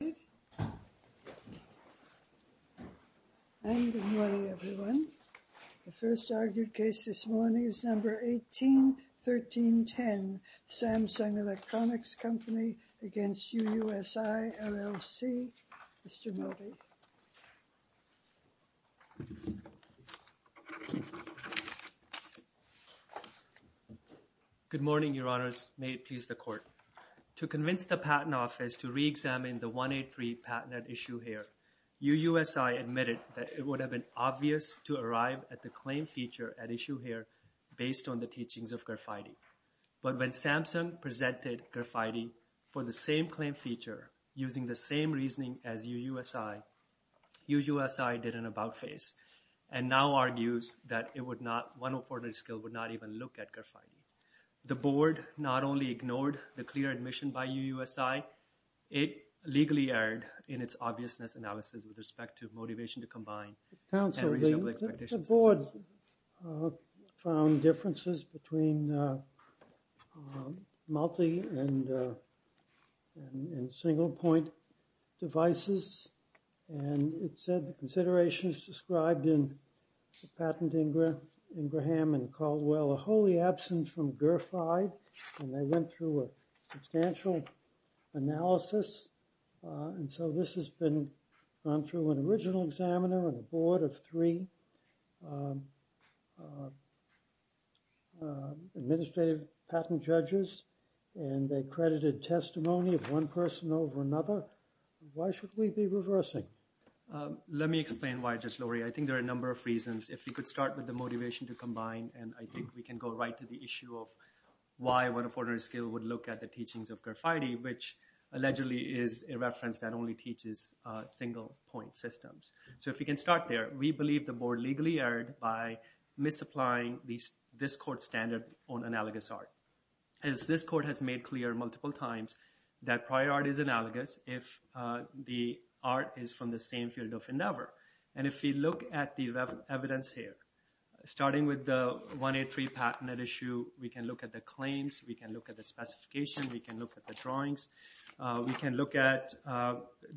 The first argued case this morning is No. 181310, Samsung Electronics Co., Ltd. v. UUSI, LLC. Mr. Modi. Good morning, Your Honors. May it please the Court. To convince the Patent Office to re-examine the 183 patent at issue here, UUSI admitted that it would have been obvious to arrive at the claim feature at issue here based on the teachings of Garfiede. But when Samsung presented Garfiede for the same claim feature using the same reasoning as UUSI, UUSI did an about-face and now argues that it would not even look at Garfiede. The Board not only ignored the clear admission by UUSI, it legally erred in its obviousness analysis with respect to motivation to combine and reasonable expectations. Counsel, the Board found differences between multi- and single-point devices and it said the considerations described in the patent, Ingraham and Caldwell, are wholly absent from Garfiede and they went through a substantial analysis. And so this has been gone through an original examiner and a board of three administrative patent judges and they credited testimony of one person over another. Why should we be reversing? Let me explain why, Judge Lowry. I think there are a number of reasons. If we could start with the motivation to combine and I think we can go right to the issue of why would a forerunner's skill would look at the teachings of Garfiede, which allegedly is a reference that only teaches single-point systems. So if we can start there, we believe the Board legally erred by misapplying this court standard on analogous art. As this court has made clear multiple times that prior art is analogous if the art is from the same field of endeavor. And if we look at the evidence here, starting with the 183 patent at issue, we can look at the claims, we can look at the specification, we can look at the drawings, we can look at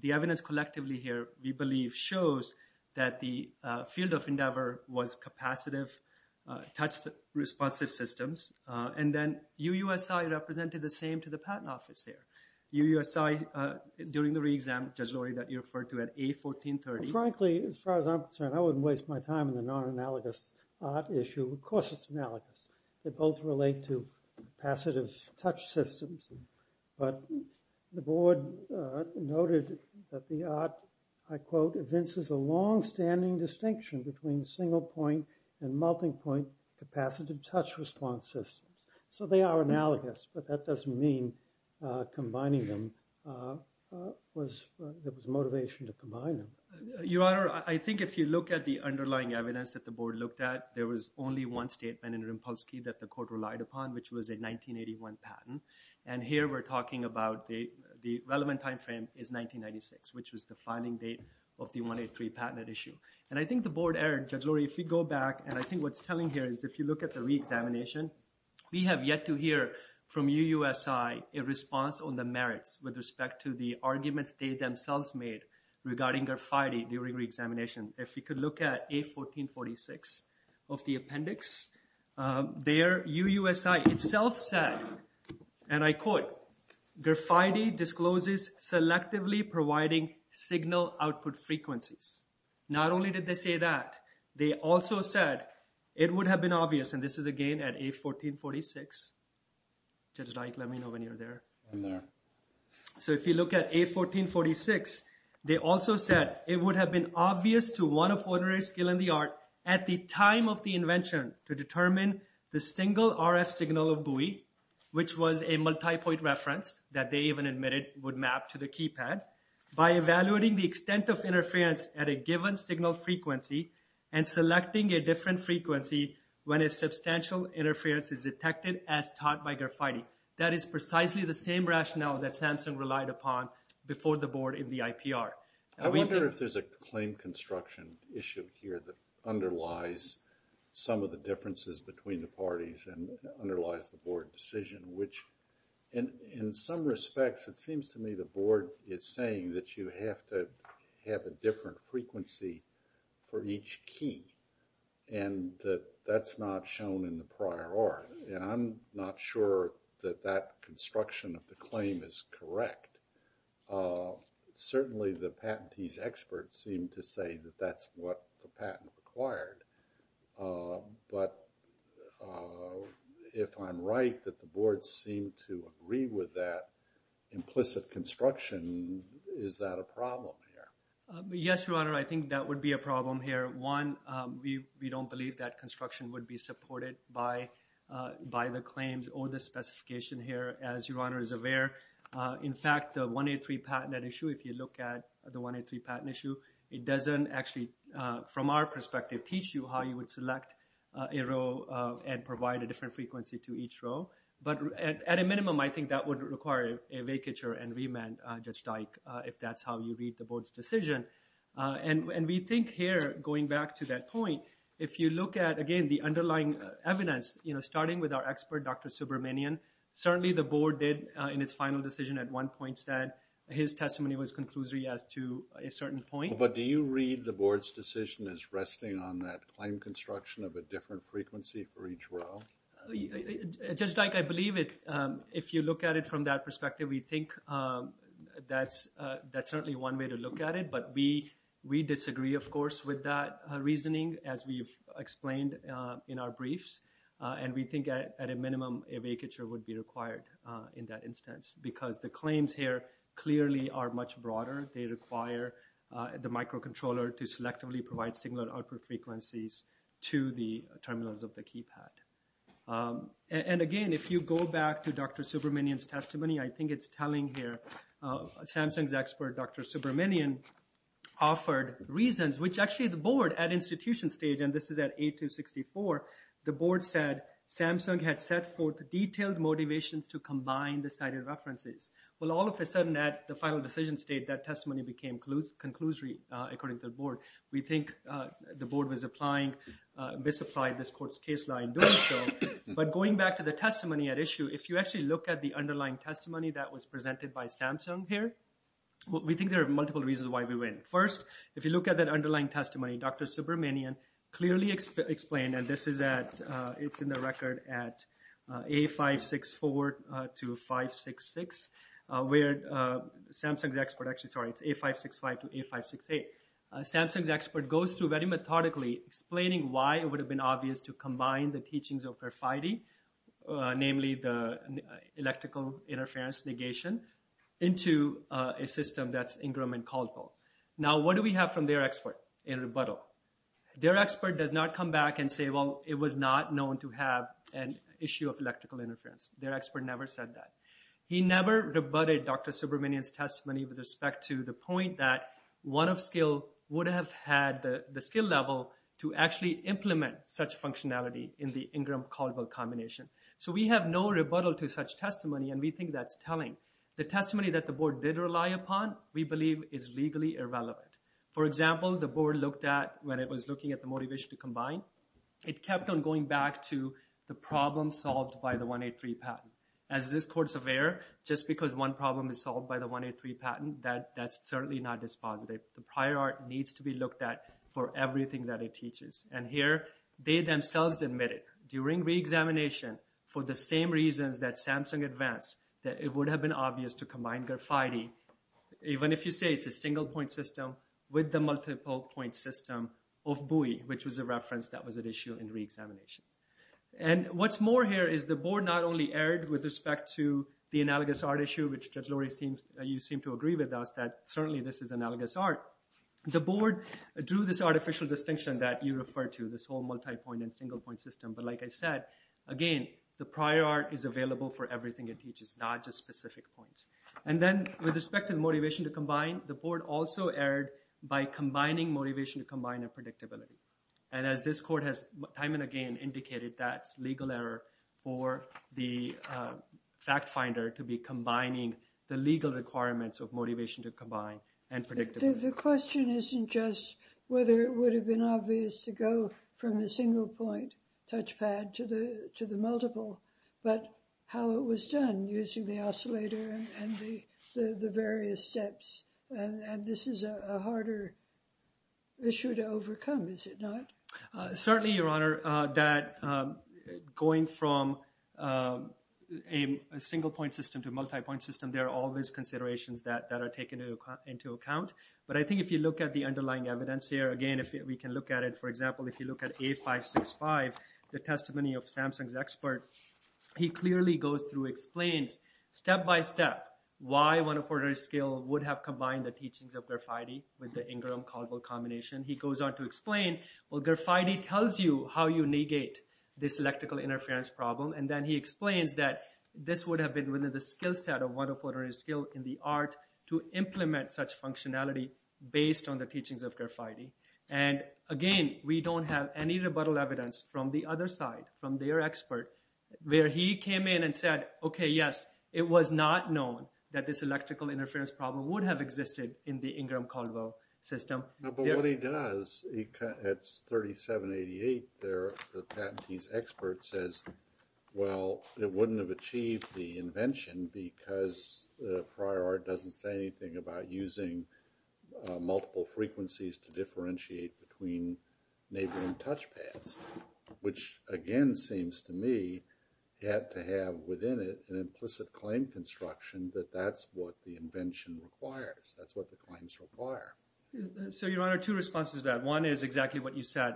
the evidence collectively here we believe shows that the field of endeavor was capacitive, touch-responsive systems. And then UUSI represented the same to the patent office there. UUSI during the re-exam, Judge Lowry, that you referred to at A1430. Frankly, as far as I'm concerned, I wouldn't waste my time in the non-analogous art issue. Of course, it's analogous. They both relate to capacitive touch systems. But the Board noted that the art, I quote, evinces a long-standing distinction between single-point and multi-point capacitive touch-response systems. So they are analogous, but that doesn't mean combining them. It was motivation to combine them. Your Honor, I think if you look at the underlying evidence that the Board looked at, there was only one statement in Rimpolsky that the Court relied upon, which was a 1981 patent. And here we're talking about the relevant time frame is 1996, which was the filing date of the 183 patent issue. And I think the Board error, Judge Lowry, if you go back, and I think what it's telling here is if you look at the re-examination, we have yet to hear from UUSI a response on the merits with respect to the arguments they themselves made regarding Garfiede during re-examination. If you could look at A1446 of the appendix, there UUSI itself said, and I quote, Garfiede discloses selectively providing signal output frequencies. Not only did they say that, they also said it would have been obvious, and this is again at A1446. Judge Dyke, let me know when you're there. I'm there. So if you look at A1446, they also said it would have been obvious to one of ordinary skill and the art at the time of the invention to determine the single RF signal of buoy, which was a evaluating the extent of interference at a given signal frequency and selecting a different frequency when a substantial interference is detected as taught by Garfiede. That is precisely the same rationale that Samsung relied upon before the Board in the IPR. I wonder if there's a claim construction issue here that underlies some of the differences between the parties and underlies the Board decision, which in some respects, it seems to me the Board is saying that you have to have a different frequency for each key, and that that's not shown in the prior art, and I'm not sure that that construction of the claim is correct. Certainly, the patentees experts seem to say that that's what the patent required, but if I'm right, that the Board seemed to agree with that implicit construction, is that a problem here? Yes, Your Honor, I think that would be a problem here. One, we don't believe that construction would be supported by the claims or the specification here, as Your Honor is aware. In fact, the 183 patent issue, if you look at the 183 patent issue, it doesn't actually, from our perspective, teach you how you would select a row and provide a different frequency to each row. But at a minimum, I think that would require a vacature and remand, Judge Dike, if that's how you read the Board's decision. And we think here, going back to that point, if you look at, again, the underlying evidence, you know, starting with our expert, Dr. Subramanian, certainly the Board did in its final decision at one point said his testimony was conclusory as to a certain point. But do you read the Board's decision as resting on that claim construction of a different frequency for each row? Judge Dike, I believe if you look at it from that perspective, we think that's certainly one way to look at it. But we disagree, of course, with that reasoning, as we've explained in our briefs. And we think at a minimum, a vacature would be required in that instance, because the claims here clearly are much broader. They require the microcontroller to selectively provide signal at output frequencies to the terminals of the keypad. And again, if you go back to Dr. Subramanian's testimony, I think it's telling here. Samsung's expert, Dr. Subramanian, offered reasons, which actually the Board at institution stage, and this is at 8-2-64, the Board said Samsung had set forth detailed motivations to combine the cited references. Well, all of a sudden at the final decision state, that testimony became conclusory, according to the Board. We think the Board was applying, misapplied this court's case law in doing so. But going back to the testimony at issue, if you actually look at the underlying testimony that was presented by Samsung here, we think there are multiple reasons why we win. First, if you look at that underlying testimony, Dr. Subramanian clearly explained, and this is at, it's in the record at 8-5-6-4 to 5-6-6, where Samsung's expert, actually, sorry, it's 8-5-6-5 to 8-5-6-8. Samsung's expert goes through very methodically explaining why it would have been obvious to combine the teachings of Verify-D, namely the electrical interference negation, into a system that's Ingram and Caldwell. Now, what do we have from their expert in rebuttal? Their expert does not come back and say, well, it was not known to have an issue of electrical interference. Their expert never said that. He never rebutted Dr. Subramanian's testimony with respect to the point that one of skill would have had the skill level to actually implement such functionality in the Ingram-Caldwell combination. So we have no rebuttal to such testimony, and we think that's telling. The testimony that the board did rely upon, we believe, is legally irrelevant. For example, the board looked at, when it was looking at the motivation to combine, it kept on going back to the problem solved by the 183 patent. As this court's aware, just because one problem is solved by the 183 patent, that's certainly not dispositive. The prior art needs to be looked at for everything that it teaches. And here, they themselves admitted, during reexamination, for the same reasons that Samsung advanced, that it would have been obvious to combine graphite, even if you say it's a single point system, with the multiple point system of buoy, which was a reference that was at issue in reexamination. And what's more here is the board not only erred with respect to the analogous art issue, which Judge Lori, you seem to agree with us, that certainly this is analogous art. The board drew this artificial distinction that you refer to, this whole multi-point and single point system. But like I said, again, the prior art is available for everything it teaches, not just specific points. And then, with respect to the motivation to combine, the board also erred by combining motivation to combine and predictability. And as this court has time and again indicated, that's legal error for the fact finder to be to combine and predictability. The question isn't just whether it would have been obvious to go from the single point touchpad to the multiple, but how it was done using the oscillator and the various steps. And this is a harder issue to overcome, is it not? Certainly, Your Honor, that going from a single point system to a multi-point system, there are all these considerations that are taken into account. But I think if you look at the underlying evidence here, again, if we can look at it, for example, if you look at A-565, the testimony of Samsung's expert, he clearly goes through, explains step-by-step why one-of-ordinary-scale would have combined the teachings of Garfiede with the Ingram-Caldwell combination. He goes on to explain, well, Garfiede tells you how you negate this electrical interference problem, and then he explains that this would have been within the skill set of one-of-ordinary-scale in the art to implement such functionality based on the teachings of Garfiede. And again, we don't have any rebuttal evidence from the other side, from their expert, where he came in and said, okay, yes, it was not known that this electrical interference problem would have existed in the Ingram-Caldwell system. But what he does, it's 3788 there, the patentee's expert says, well, it wouldn't have achieved the invention because prior art doesn't say anything about using multiple frequencies to differentiate between neighboring touchpads, which, again, seems to me, had to have within it an implicit claim construction that that's what the invention requires, that's what the claims require. So, Your Honor, two responses to that. One is exactly what you said.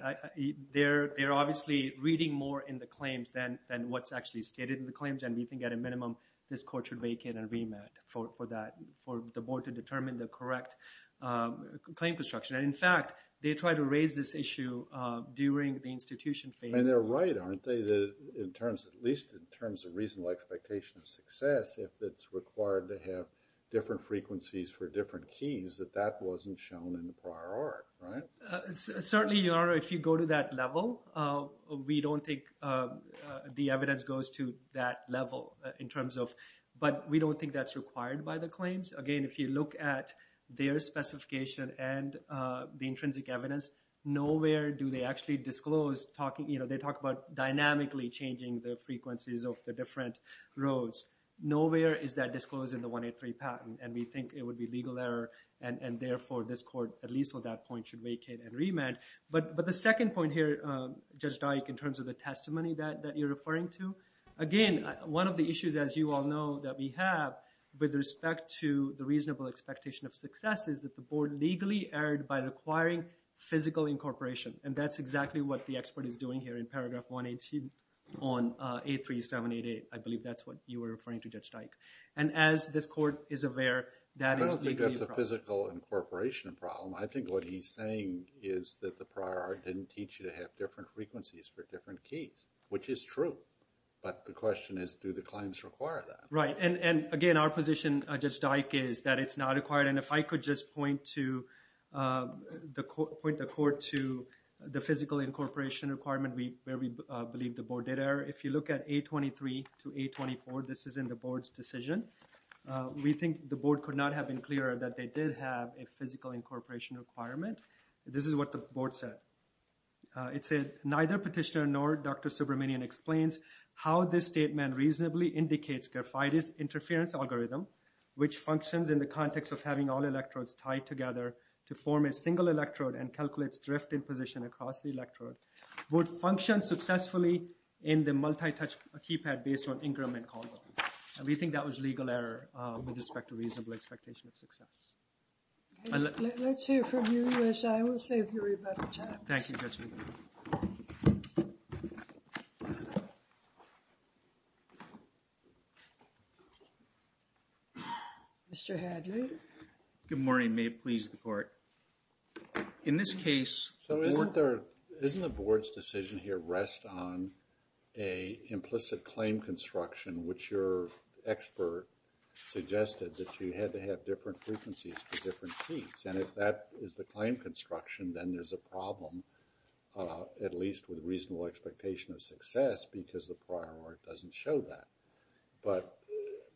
They're obviously reading more in the claims than what's actually stated in the claims, and we think at a minimum, this court should make an agreement for that, for the board to determine the correct claim construction. And in fact, they try to raise this issue during the institution phase. And they're right, aren't they, that in terms, at least in terms of reasonable expectation of shown in the prior art, right? Certainly, Your Honor, if you go to that level, we don't think the evidence goes to that level in terms of, but we don't think that's required by the claims. Again, if you look at their specification and the intrinsic evidence, nowhere do they actually disclose talking, you know, they talk about dynamically changing the frequencies of the different rows. Nowhere is that disclosed in the 183 patent, and we think it would be legal error, and therefore, this court, at least on that point, should vacate and remand. But the second point here, Judge Dyke, in terms of the testimony that you're referring to, again, one of the issues, as you all know, that we have with respect to the reasonable expectation of success is that the board legally erred by requiring physical incorporation. And that's exactly what the expert is doing here in paragraph 118 on 83788. I believe that's what you were referring to, Judge Dyke. And as this court is aware, that is a physical incorporation problem. I think what he's saying is that the prior art didn't teach you to have different frequencies for different keys, which is true. But the question is, do the claims require that? Right. And again, our position, Judge Dyke, is that it's not required. And if I could just point the court to the physical incorporation requirement where we believe the board did error, if you look at 823 to 824, this is in the board's decision. We think the board could not have been clearer that they did have a physical incorporation requirement. This is what the board said. It said, neither petitioner nor Dr. Subramanian explains how this statement reasonably indicates graphitis interference algorithm, which functions in the context of having all electrodes tied together to form a single electrode and calculates drift in position across the electrode, would function successfully in the multi-touch keypad based on increment call volume. And we think that was legal error with respect to reasonable expectation of success. Let's hear from you, U.S.I. We'll save you a lot of time. Thank you, Judge Lieberman. Mr. Hadley. Good morning. May it please the court. In this case... So, isn't the board's decision here rests on an implicit claim construction, which your expert suggested that you had to have different frequencies for different keys. And if that is the claim construction, then there's a problem, at least with reasonable expectation of success, because the prior art doesn't show that. But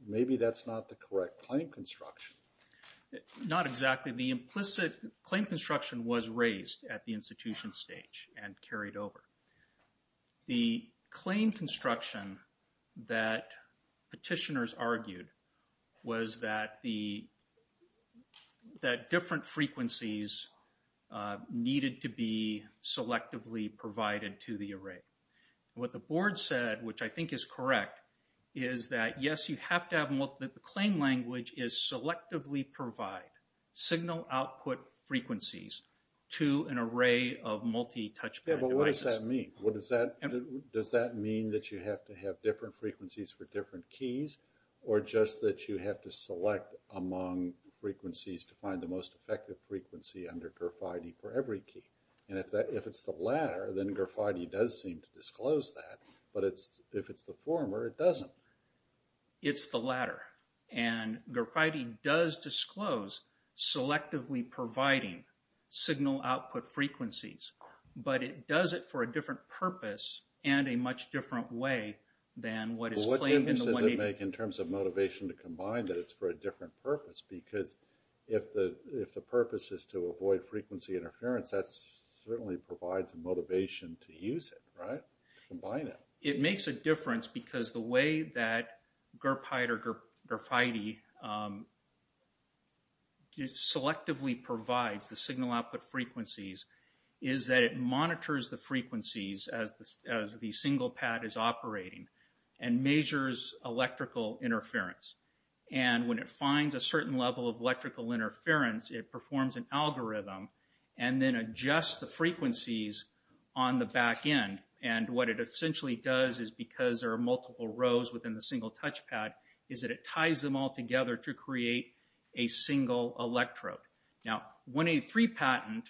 maybe that's not the correct claim construction. Not exactly. The implicit claim construction was raised at the institution stage and carried over. The claim construction that petitioners argued was that different frequencies needed to be selectively provided to the array. What the board said, which I think is correct, is that yes, the claim language is selectively provide signal output frequencies to an array of multi-touch... Yeah, but what does that mean? Does that mean that you have to have different frequencies for different keys, or just that you have to select among frequencies to find the most effective frequency under GERF-ID for every key? And if it's the latter, then GERF-ID does seem to disclose that, but if it's the former, it doesn't. It's the latter. And GERF-ID does disclose selectively providing signal output frequencies, but it does it for a different purpose and a much different way than what is claimed in the way... Well, what difference does it make in terms of motivation to combine that it's for a different purpose? Because if the purpose is to avoid that... It makes a difference because the way that GERP-ID or GERF-ID selectively provides the signal output frequencies is that it monitors the frequencies as the single pad is operating and measures electrical interference. And when it finds a certain level of electrical interference, it performs an algorithm and then adjusts the frequencies on the back end. And what it essentially does is, because there are multiple rows within the single touch pad, is that it ties them all together to create a single electrode. Now, 1A3 patent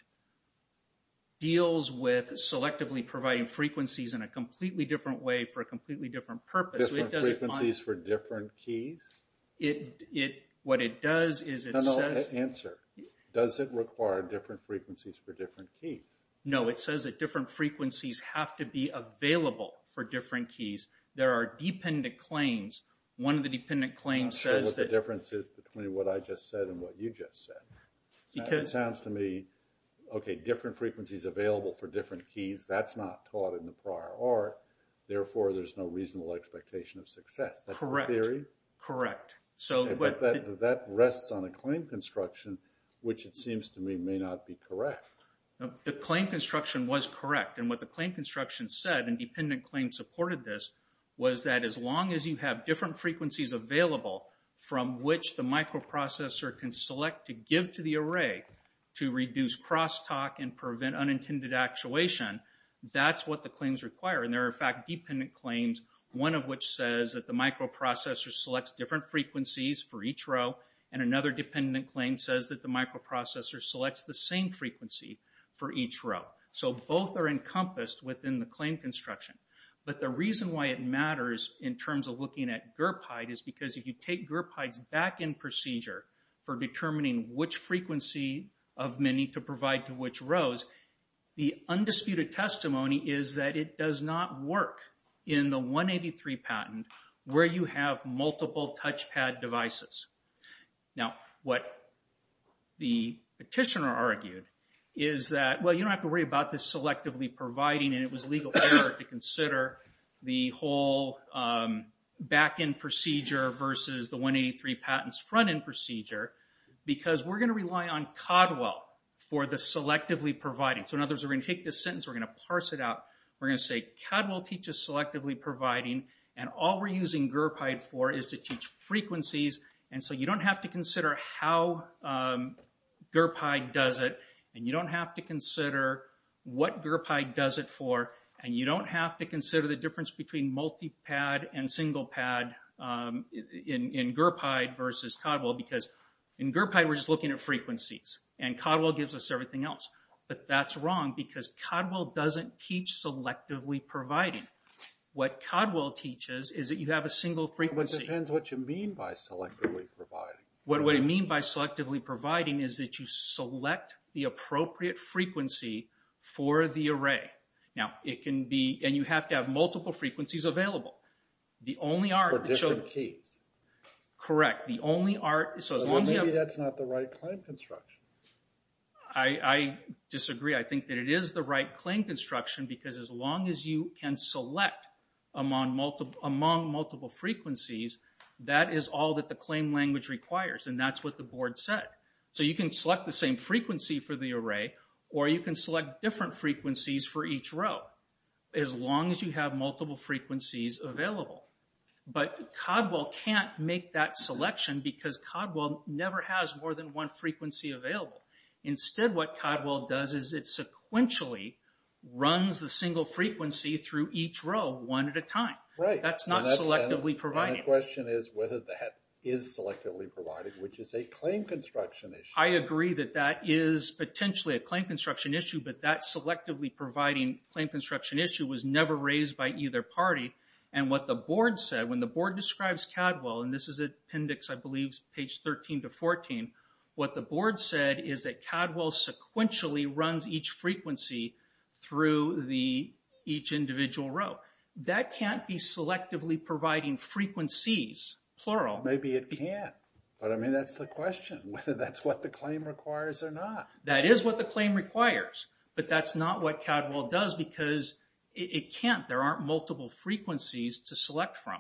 deals with selectively providing frequencies in a completely different way for a completely different purpose. Different frequencies for different keys? What it does is... No, no, answer. Does it require different frequencies for different keys? No, it says that different frequencies have to be available for different keys. There are dependent claims. One of the dependent claims says that... I'm not sure what the difference is between what I just said and what you just said. Because... It sounds to me, okay, different frequencies available for different keys, that's not taught in the prior art. Therefore, there's no reasonable expectation of success. Correct, correct. That rests on a claim construction, which it seems to me may not be correct. The claim construction was correct. And what the claim construction said, and dependent claims supported this, was that as long as you have different frequencies available from which the microprocessor can select to give to the array to reduce crosstalk and prevent unintended actuation, that's what the claims require. And there are, in fact, dependent claims, one of which says that the microprocessor selects different frequencies for each row, and another dependent claim says that the microprocessor selects the same frequency for each row. So both are encompassed within the claim construction. But the reason why it matters in terms of looking at GERPIDE is because if you take GERPIDE's back-end procedure for determining which frequency of many to provide to which rows, the undisputed testimony is that it does not work in the 183 patent where you have multiple touchpad devices. Now, what the petitioner argued is that, well, you don't have to worry about this selectively providing, and it was legal effort to consider the whole back-end procedure versus the 183 patent's front-end procedure, because we're going to rely on CODWELL for the selectively providing. So in other words, we're going to take this sentence, we're going to parse it out, we're going to say CODWELL teaches selectively providing, and all we're using GERPIDE for is to teach frequencies, and so you don't have to consider how GERPIDE does it, and you don't have to consider what GERPIDE does it for, and you don't have to consider the difference between multi-pad and single-pad in GERPIDE versus CODWELL, because in GERPIDE we're just looking at frequencies, and CODWELL gives us everything else. But that's wrong, because CODWELL doesn't teach selectively providing. What CODWELL teaches is that you have a single frequency. It depends what you mean by selectively providing. What I mean by selectively providing is that you select the appropriate frequency for the array. Now, it can be, and you have to have multiple frequencies available. The only art... For different keys. Correct. The only art... Maybe that's not the right claim construction. I disagree. I think that it is the right claim construction, because as long as you can select among multiple frequencies, that is all that the claim language requires, and that's what the board said. So you can select the same frequency for the array, or you can select different frequencies for each row, as long as you have never has more than one frequency available. Instead, what CODWELL does is it sequentially runs the single frequency through each row one at a time. Right. That's not selectively providing. And the question is whether that is selectively providing, which is a claim construction issue. I agree that that is potentially a claim construction issue, but that selectively providing claim construction issue was never raised by either party. And what the board said, when the board describes CODWELL, and this is appendix, I believe, page 13 to 14, what the board said is that CODWELL sequentially runs each frequency through each individual row. That can't be selectively providing frequencies, plural. Maybe it can, but I mean, that's the question, whether that's what the claim requires or not. That is what the claim requires, but that's not what CODWELL does, because it can't. There aren't frequencies to select from.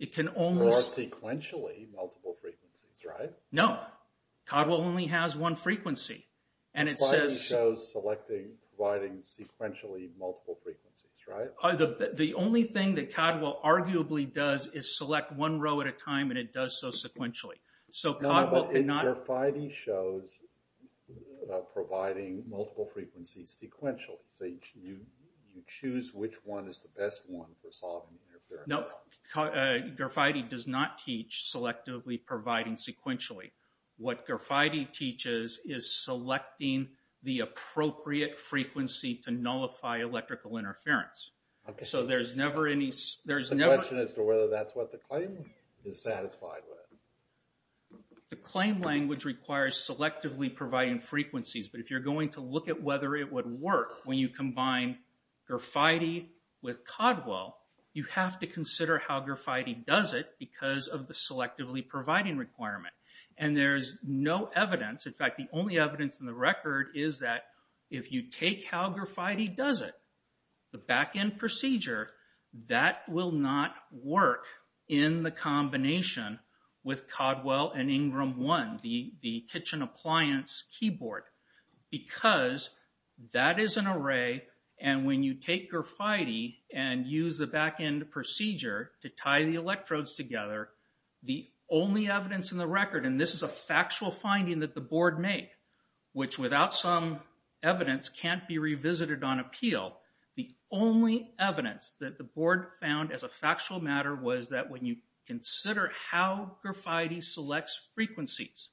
It can only sequentially multiple frequencies, right? No, CODWELL only has one frequency. And it says, Providing shows selecting, providing sequentially multiple frequencies, right? The only thing that CODWELL arguably does is select one row at a time, and it does so sequentially. So CODWELL cannot, GARFIDI shows providing multiple frequencies sequentially. So you choose which one is the best one for solving the interference problem. No, GARFIDI does not teach selectively providing sequentially. What GARFIDI teaches is selecting the appropriate frequency to nullify electrical interference. So there's never any, there's never, The question is whether that's what the claim is satisfied with. The claim language requires selectively providing frequencies, but if you're going to look at whether it would work when you combine GARFIDI with CODWELL, you have to consider how GARFIDI does it because of the selectively providing requirement. And there's no evidence, in fact, the only evidence in the record is that if you take how GARFIDI does it, the back-end procedure, that will not work in the combination with CODWELL and INGRAM-1, the kitchen appliance keyboard, because that is an array, and when you take GARFIDI and use the back-end procedure to tie the electrodes together, the only evidence in the record, and this is a factual finding that board made, which without some evidence can't be revisited on appeal, the only evidence that the board found as a factual matter was that when you consider how GARFIDI selects frequencies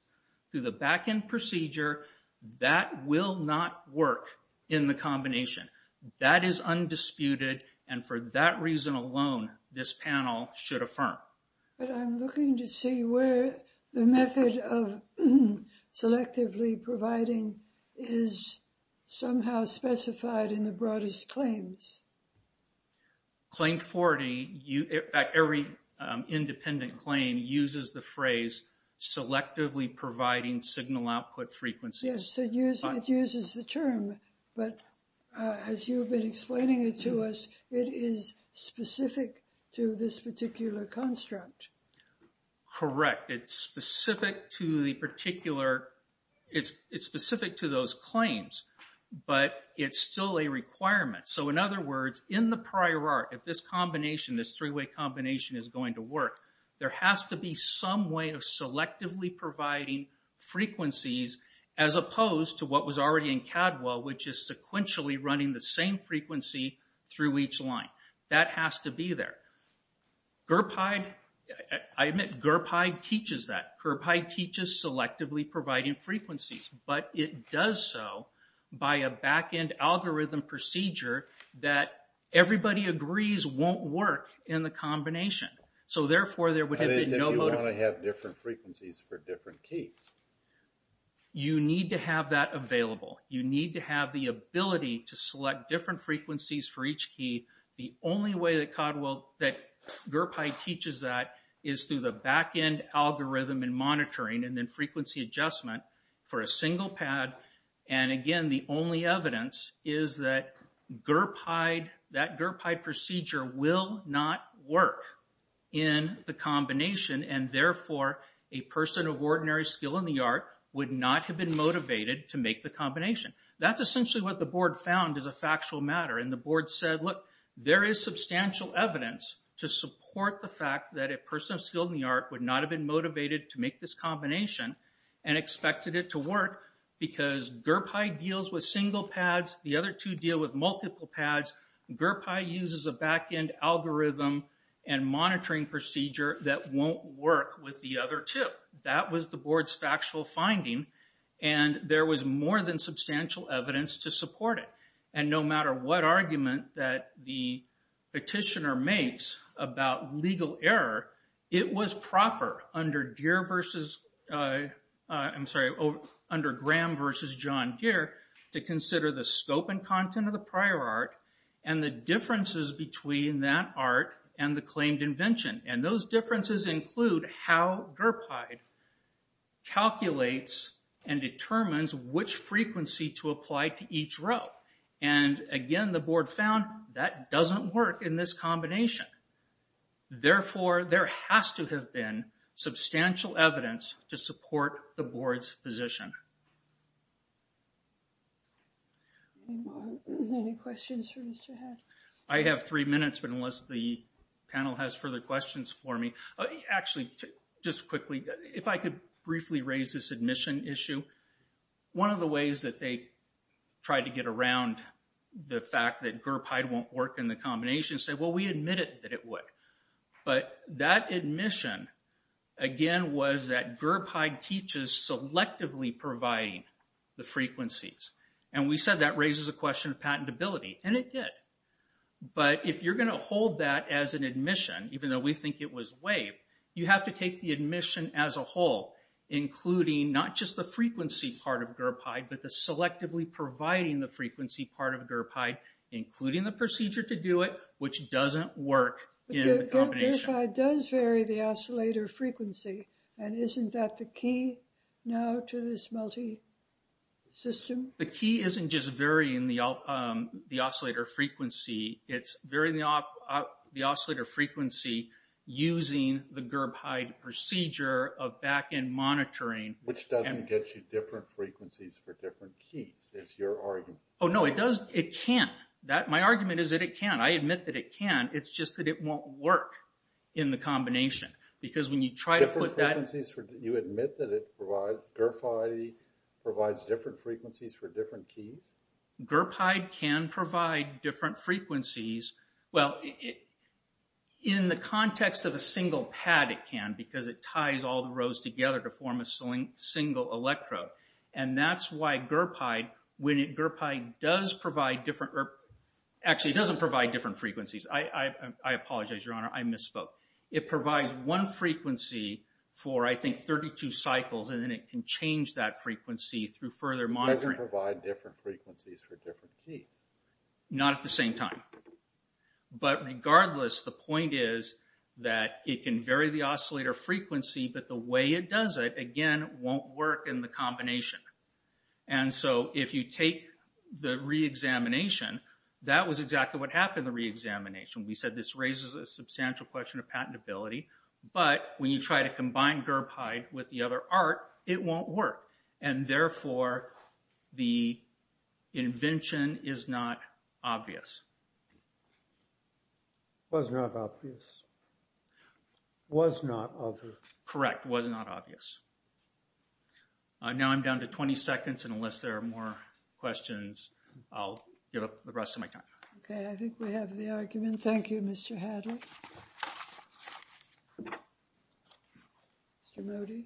through the back-end procedure, that will not work in the combination. That is undisputed, and for that reason alone, this panel should affirm. But I'm looking to see where the method of selectively providing is somehow specified in the broadest claims. Claim 40, every independent claim uses the phrase selectively providing signal output frequencies. Yes, it uses the term, but as you've been instructed. Correct, it's specific to the particular, it's specific to those claims, but it's still a requirement. So in other words, in the prior art, if this combination, this three-way combination is going to work, there has to be some way of selectively providing frequencies as opposed to what was already in CADWELL, which is sequentially running the same I admit, GARFIDI teaches that. GARFIDI teaches selectively providing frequencies, but it does so by a back-end algorithm procedure that everybody agrees won't work in the combination. So therefore, there would have been no... That is if you want to have different frequencies for different keys. You need to have that available. You need to have the ability to is through the back-end algorithm and monitoring and then frequency adjustment for a single pad. And again, the only evidence is that GARFIDI, that GARFIDI procedure will not work in the combination. And therefore, a person of ordinary skill in the art would not have been motivated to make the combination. That's essentially what the board found is a factual matter. And the board said, look, there is substantial evidence to support the fact that a person of skill in the art would not have been motivated to make this combination and expected it to work because GIRPI deals with single pads. The other two deal with multiple pads. GIRPI uses a back-end algorithm and monitoring procedure that won't work with the other two. That was the board's factual finding. And there was more than substantial evidence to support it. And no argument that the petitioner makes about legal error, it was proper under Deere versus... I'm sorry, under Graham versus John Deere to consider the scope and content of the prior art and the differences between that art and the claimed invention. And those differences include how GIRPI calculates and determines which frequency to apply to each row. And again, the board found that doesn't work in this combination. Therefore, there has to have been substantial evidence to support the board's position. Any questions for Mr. Hatch? I have three minutes, but unless the panel has further questions for me... Actually, just quickly, if I could briefly raise this admission issue. One of the ways that they tried to get around the fact that GIRPI won't work in the combination said, well, we admitted that it would. But that admission, again, was that GIRPI teaches selectively providing the frequencies. And we said that raises a question of patentability, and it did. But if you're going to hold that as an admission, even though we think it was WAVE, you have to take the admission as a whole, including not just the frequency part of GIRPI, but the selectively providing the frequency part of GIRPI, including the procedure to do it, which doesn't work in the combination. GIRPI does vary the oscillator frequency. And isn't that the key now to this multi system? The key isn't just varying the oscillator frequency. It's varying the oscillator frequency using the GIRPI procedure of back-end monitoring. Which doesn't get you different frequencies for different keys, is your argument. Oh, no, it does. It can't. My argument is that it can't. I admit that it can. It's just that it won't work in the combination. Because when you try to put that... You admit that it provides... GIRPI provides different frequencies for different keys? GIRPI can provide different frequencies. Well, in the context of a single pad, it can, because it ties all the rows together to form a single electrode. And that's why GIRPI does provide different... Actually, it doesn't provide different frequencies. I apologize, Your Honor. I misspoke. It provides one frequency for, I think, 32 cycles, and then it can change that frequency through further monitoring. It doesn't provide different frequencies for different keys? Not at the same time. But regardless, the point is that it can vary the oscillator frequency, but the way it does it, again, won't work in the combination. And so if you take the re-examination, that was exactly what happened in the re-examination. We said this raises a patentability, but when you try to combine GIRPI with the other art, it won't work. And therefore, the invention is not obvious. Was not obvious. Was not obvious. Correct. Was not obvious. Now I'm down to 20 seconds, and unless there are more questions, I'll give up the rest of my time. Okay. I think we have the argument. Thank you, Mr. Hadley. Mr. Modi?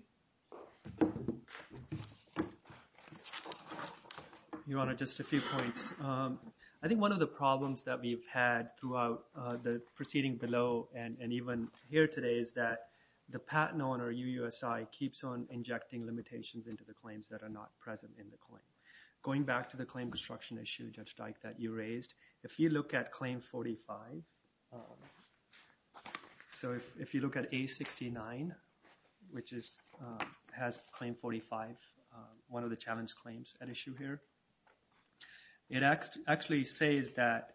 Your Honor, just a few points. I think one of the problems that we've had throughout the proceeding below and even here today is that the patent owner, UUSI, keeps on injecting limitations into the claims that are not present in the claim. Going back to the claim construction issue, that you raised, if you look at claim 45, so if you look at A69, which has claim 45, one of the challenge claims at issue here, it actually says that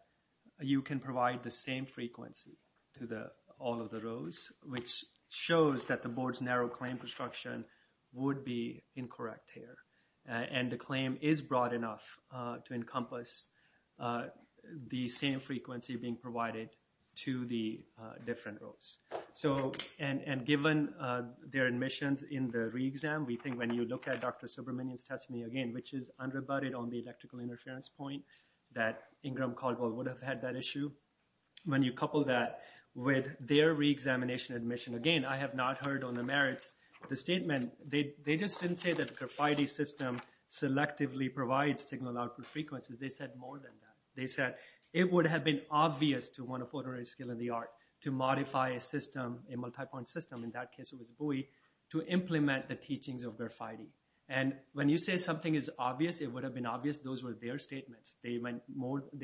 you can provide the same frequency to all of the rows, which shows that the board's narrow claim construction would be incorrect here. And the claim is broad enough to encompass the same frequency being provided to the different rows. And given their admissions in the re-exam, we think when you look at Dr. Subramanian's testimony again, which is unrebutted on the electrical interference point that Ingram Caldwell would have had that issue, when you couple that with their re-examination again, I have not heard on the merits of the statement. They just didn't say that the Graffiti system selectively provides signal output frequencies. They said more than that. They said it would have been obvious to one of ordinary skill in the art to modify a system, a multipoint system, in that case it was Bowie, to implement the teachings of Graffiti. And when you say something is obvious, it would have been obvious those were their statements. They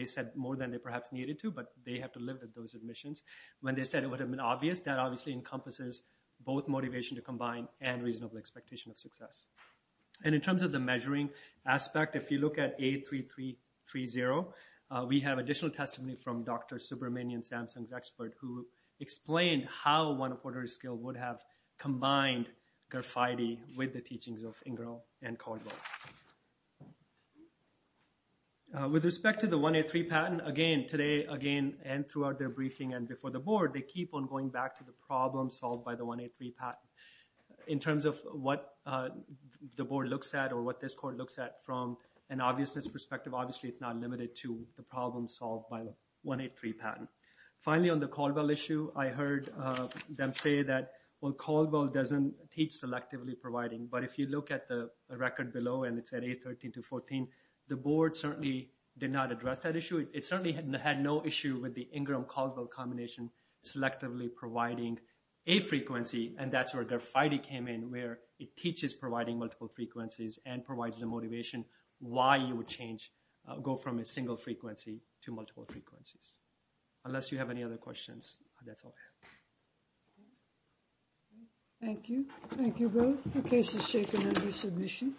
said more than they perhaps needed to, but they have to live with those admissions. When they said it would have been obvious, that obviously encompasses both motivation to combine and reasonable expectation of success. And in terms of the measuring aspect, if you look at A3330, we have additional testimony from Dr. Subramanian, Samsung's expert, who explained how one of ordinary skill would have combined Graffiti with the teachings of Ingram and Caldwell. With respect to the 183 patent, again, today, again, and throughout their briefing and before the board, they keep on going back to the problem solved by the 183 patent. In terms of what the board looks at or what this court looks at from an obviousness perspective, obviously it's not limited to the problem solved by the 183 patent. Finally, on the Caldwell issue, I heard them say that, well, Caldwell doesn't teach selectively providing, but if you look at the record below and it's at A13214, the board certainly did not address that issue. It certainly had no issue with the Ingram-Caldwell combination selectively providing a frequency, and that's where Graffiti came in, where it teaches providing multiple frequencies and provides the motivation why you would change, go from a single frequency to multiple frequencies. Unless you have any other questions, that's all I have. Thank you. Thank you both for cases taken under submission.